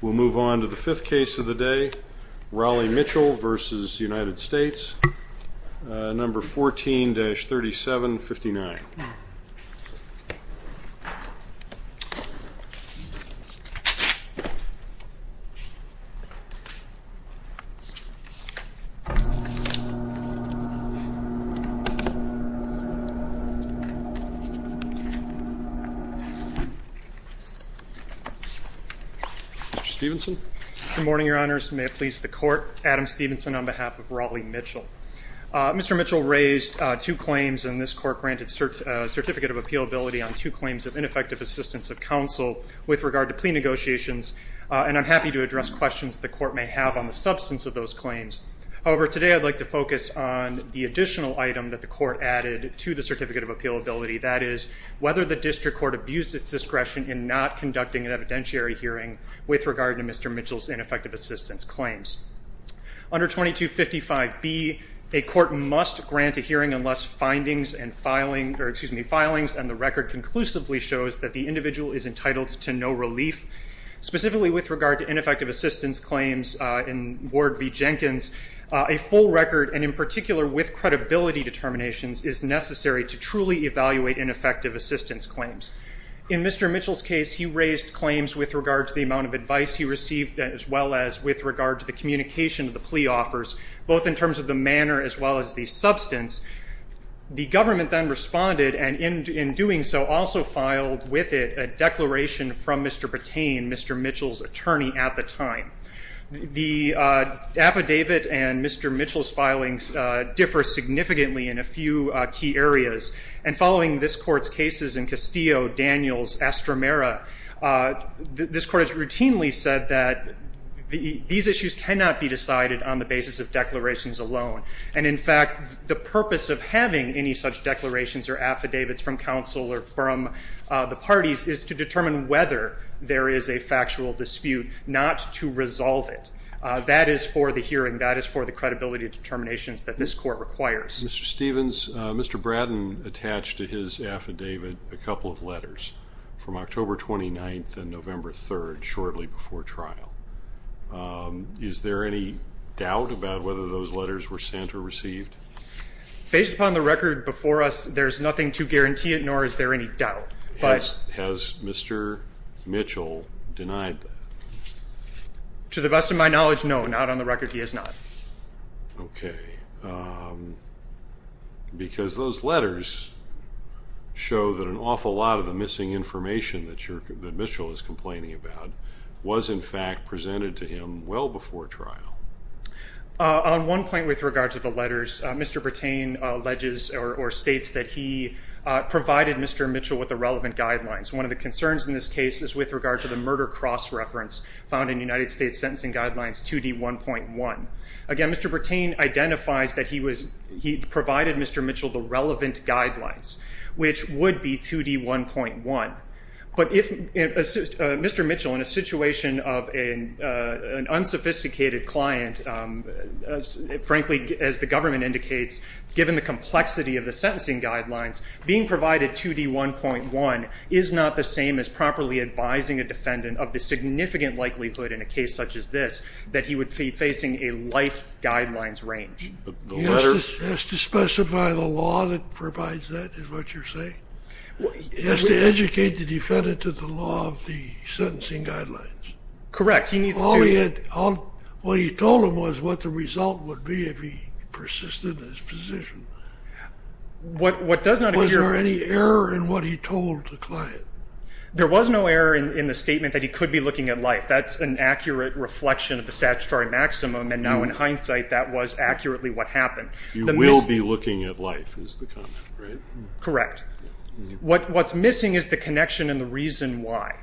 We'll move on to the fifth case of the day, Raleigh Mitchell v. United States, number 14-3759. Mr. Stephenson. Good morning, Your Honors. May it please the Court, Adam Stephenson on behalf of Raleigh Mitchell. Mr. Mitchell raised two claims in this Court-granted Certificate of Appealability on two claims of ineffective assistance of counsel with regard to plea negotiations, and I'm happy to address questions the Court may have on the substance of those claims. However, today I'd like to focus on the additional item that the Court added to the Certificate of Appealability, that is, whether the district court abused its discretion in not conducting an evidentiary hearing with regard to Mr. Mitchell's ineffective assistance claims. Under 2255B, a court must grant a hearing unless findings and filing, or excuse me, filings, and the record conclusively shows that the individual is entitled to no relief. Specifically with regard to ineffective assistance claims in Ward v. Jenkins, a full record, and in particular with credibility determinations, is necessary to truly evaluate ineffective assistance claims. In Mr. Mitchell's case, he raised claims with regard to the amount of advice he received, as well as with regard to the communication of the plea offers, both in terms of the manner as well as the substance. The government then responded and in doing so also filed with it a declaration from Mr. Patain, Mr. Mitchell's attorney at the time. The affidavit and Mr. Mitchell's filings differ significantly in a few key areas. And following this Court's cases in Castillo, Daniels, Estramera, this Court has routinely said that these issues cannot be decided on the basis of declarations alone. And in fact, the purpose of having any such declarations or affidavits from counsel or from the parties is to determine whether there is a factual dispute, not to resolve it. That is for the hearing. That is for the credibility determinations that this Court requires. Mr. Stephens, Mr. Bratton attached to his affidavit a couple of letters from October 29th and November 3rd, shortly before trial. Is there any doubt about whether those letters were sent or received? Based upon the record before us, there's nothing to guarantee it, nor is there any doubt. Has Mr. Mitchell denied that? To the best of my knowledge, no. Not on the record. He has not. Okay. Because those letters show that an awful lot of the missing information that Mitchell is complaining about was in fact presented to him well before trial. On one point with regard to the letters, Mr. Brattain alleges or states that he provided Mr. Mitchell with the relevant guidelines. One of the concerns in this case is with regard to the murder cross-reference found in United States Sentencing Guidelines 2D1.1. Again, Mr. Brattain identifies that he provided Mr. Mitchell the relevant guidelines, which would be 2D1.1. But Mr. Mitchell, in a situation of an unsophisticated client, frankly, as the government indicates, given the complexity of the sentencing guidelines, being provided 2D1.1 is not the same as properly advising a defendant of the significant likelihood in a case such as this that he would be facing a life guidelines range. He has to specify the law that provides that, is what you're saying? He has to educate the defendant to the law of the sentencing guidelines. Correct. What he told him was what the result would be if he persisted in his position. Was there any error in what he told the client? There was no error in the statement that he could be looking at life. That's an accurate reflection of the statutory maximum. And now, in hindsight, that was accurately what happened. You will be looking at life is the comment, right? Correct. What's missing is the connection and the reason why.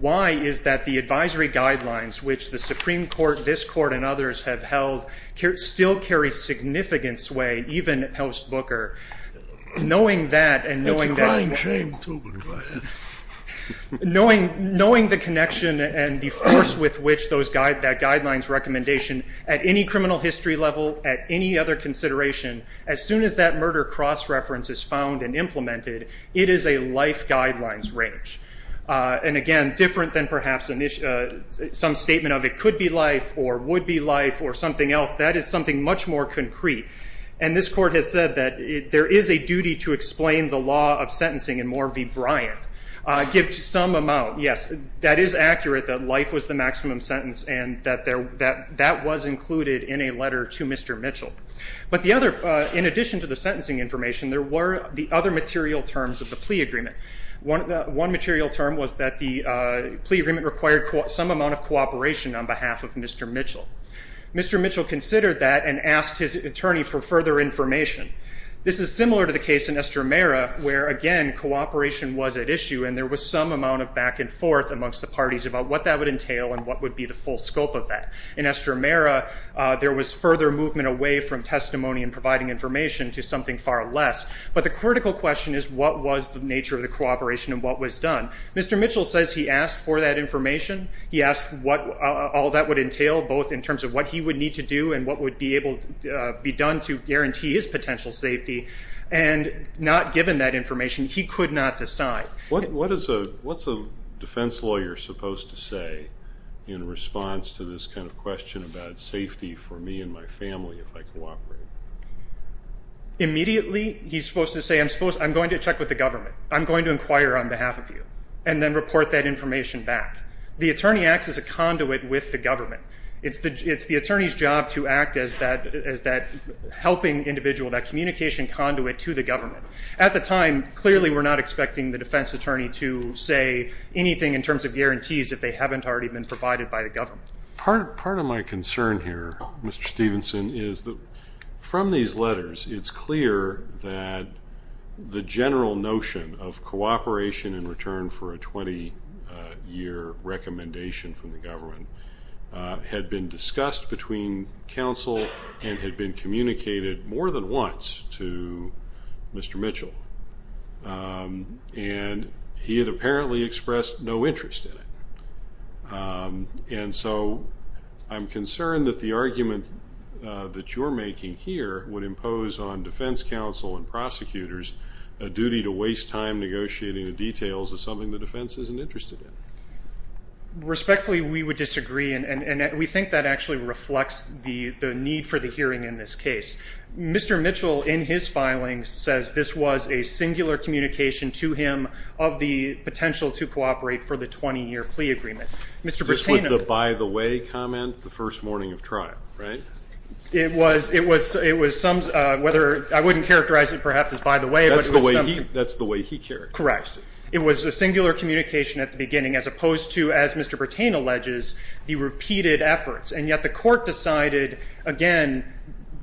Why is that the advisory guidelines, which the Supreme Court, this Court, and others have held, still carry significant sway, even post-Booker, knowing that and knowing that It's a crime shame, too, but go ahead. at any criminal history level, at any other consideration, as soon as that murder cross-reference is found and implemented, it is a life guidelines range. And again, different than perhaps some statement of it could be life or would be life or something else. That is something much more concrete. And this Court has said that there is a duty to explain the law of sentencing in more v. Bryant. Give some amount, yes, that is accurate that life was the maximum sentence and that that was included in a letter to Mr. Mitchell. But the other, in addition to the sentencing information, there were the other material terms of the plea agreement. One material term was that the plea agreement required some amount of cooperation on behalf of Mr. Mitchell. Mr. Mitchell considered that and asked his attorney for further information. This is similar to the case in Estramera where, again, cooperation was at issue and there was some amount of back and forth amongst the parties about what that would entail and what would be the full scope of that. In Estramera, there was further movement away from testimony and providing information to something far less. But the critical question is what was the nature of the cooperation and what was done. Mr. Mitchell says he asked for that information. He asked what all that would entail, both in terms of what he would need to do and what would be able to be done to guarantee his potential safety. And not given that information, he could not decide. What is a defense lawyer supposed to say in response to this kind of question about safety for me and my family if I cooperate? Immediately, he's supposed to say, I'm going to check with the government. I'm going to inquire on behalf of you and then report that information back. The attorney acts as a conduit with the government. It's the attorney's job to act as that helping individual, that communication conduit to the government. At the time, clearly we're not expecting the defense attorney to say anything in terms of guarantees if they haven't already been provided by the government. Part of my concern here, Mr. Stevenson, is that from these letters, it's clear that the general notion of cooperation in return for a 20-year recommendation from the government had been discussed between counsel and had been communicated more than once to Mr. Mitchell. And he had apparently expressed no interest in it. And so I'm concerned that the argument that you're making here would impose on defense counsel and prosecutors a duty to waste time negotiating the details of something the defense isn't interested in. Respectfully, we would disagree, and we think that actually reflects the need for the hearing in this case. Mr. Mitchell, in his filings, says this was a singular communication to him of the potential to cooperate for the 20-year plea agreement. Mr. Bertano. This was the by-the-way comment the first morning of trial, right? It was some, whether, I wouldn't characterize it perhaps as by-the-way. That's the way he characterized it. Correct. It was a singular communication at the beginning as opposed to, as Mr. Bertano alleges, the repeated efforts. And yet the court decided, again,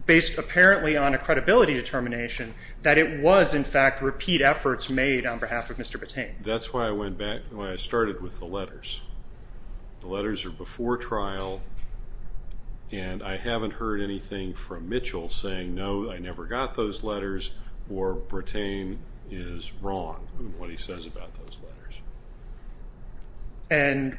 based apparently on a credibility determination, that it was, in fact, repeat efforts made on behalf of Mr. Bertano. That's why I started with the letters. The letters are before trial, and I haven't heard anything from Mitchell saying, no, I never got those letters, or Bertano is wrong in what he says about those letters. And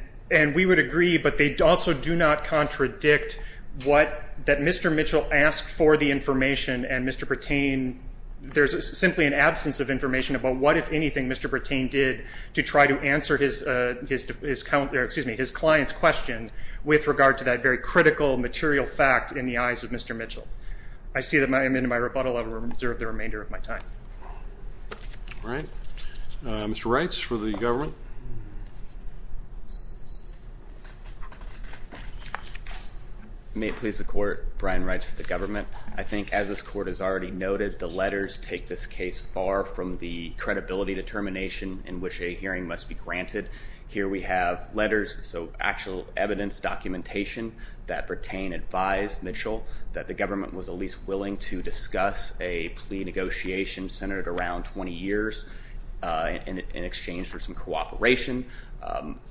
we would agree, but they also do not contradict what, that Mr. Mitchell asked for the information and Mr. Bertano, there's simply an absence of information about what, if anything, Mr. Bertano did to try to answer his client's question with regard to that very critical, material fact in the eyes of Mr. Mitchell. I see that I'm in my rebuttal. I will reserve the remainder of my time. All right. Mr. Reitz for the government. May it please the court, Brian Reitz for the government. I think, as this court has already noted, the letters take this case far from the credibility determination in which a hearing must be granted. Here we have letters, so actual evidence, documentation, that pertain, advise Mitchell that the government was at least willing to discuss a plea negotiation centered around 20 years in exchange for some cooperation.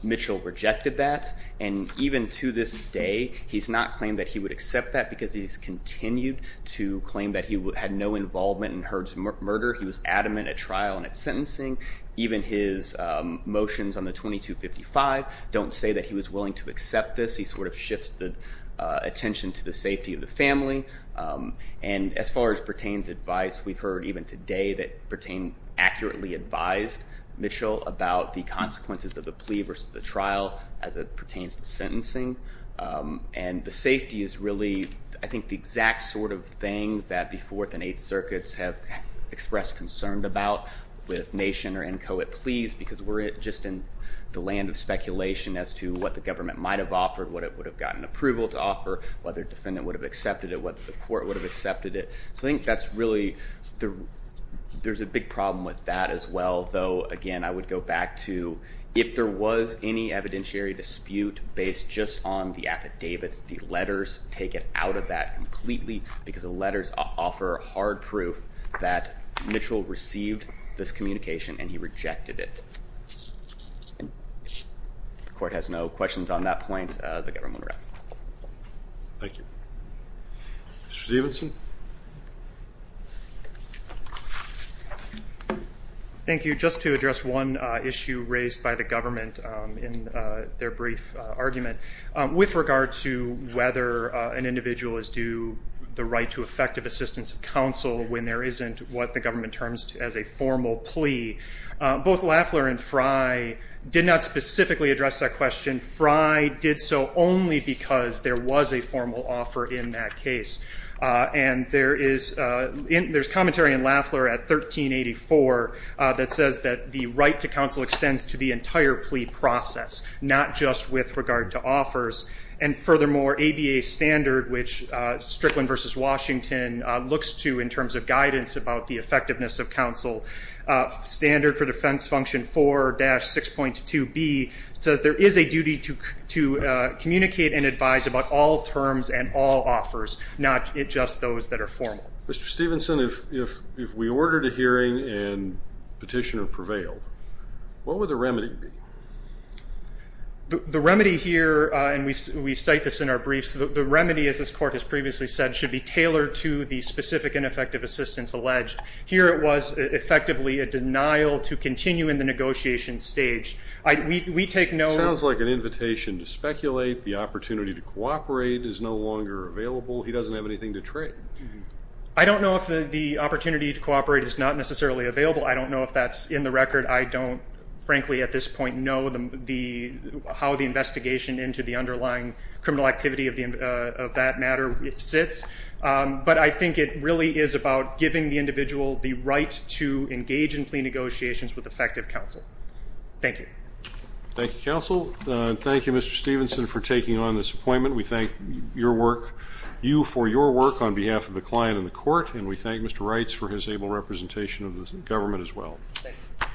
Mitchell rejected that, and even to this day, he's not claimed that he would accept that because he's continued to claim that he had no involvement in Hurd's murder. He was adamant at trial and at sentencing. Even his motions on the 2255 don't say that he was willing to accept this. He sort of shifts the attention to the safety of the family. And as far as pertains advice, we've heard even today that pertain accurately advised Mitchell about the consequences of the plea versus the trial as it pertains to sentencing. And the safety is really, I think, the exact sort of thing that the Fourth and Eighth Circuits have expressed concern about with nation or inchoate pleas because we're just in the land of speculation as to what the government might have offered, what it would have gotten approval to offer, whether a defendant would have accepted it, whether the court would have accepted it. So I think that's really, there's a big problem with that as well, though, again, I would go back to if there was any evidentiary dispute based just on the affidavits, the letters take it out of that completely because the letters offer hard proof that Mitchell received this communication and he rejected it. The court has no questions on that point. The government will rest. Thank you. Mr. Davidson. Thank you. Just to address one issue raised by the government in their brief argument, with regard to whether an individual is due the right to effective assistance of counsel when there isn't what the government terms as a formal plea, both Lafler and Fry did not specifically address that question. Fry did so only because there was a formal offer in that case. And there is commentary in Lafler at 1384 that says that the right to counsel extends to the entire plea process, not just with regard to offers. And furthermore, ABA standard, which Strickland versus Washington looks to in terms of guidance about the effectiveness of counsel, standard for defense function 4-6.2b says there is a duty to communicate and advise about all terms and all offers, not just those that are formal. Mr. Stevenson, if we ordered a hearing and petitioner prevailed, what would the remedy be? The remedy here, and we cite this in our briefs, the remedy, as this court has previously said, should be tailored to the specific and effective assistance alleged. Here it was effectively a denial to continue in the negotiation stage. We take no ---- Sounds like an invitation to speculate. The opportunity to cooperate is no longer available. He doesn't have anything to trade. I don't know if the opportunity to cooperate is not necessarily available. I don't know if that's in the record. I don't, frankly, at this point, know how the investigation into the underlying criminal activity of that matter sits. But I think it really is about giving the individual the right to engage in plea negotiations with effective counsel. Thank you. Thank you, counsel. Thank you, Mr. Stevenson, for taking on this appointment. We thank you for your work on behalf of the client and the court, and we thank Mr. Reitz for his able representation of the government as well. Thank you.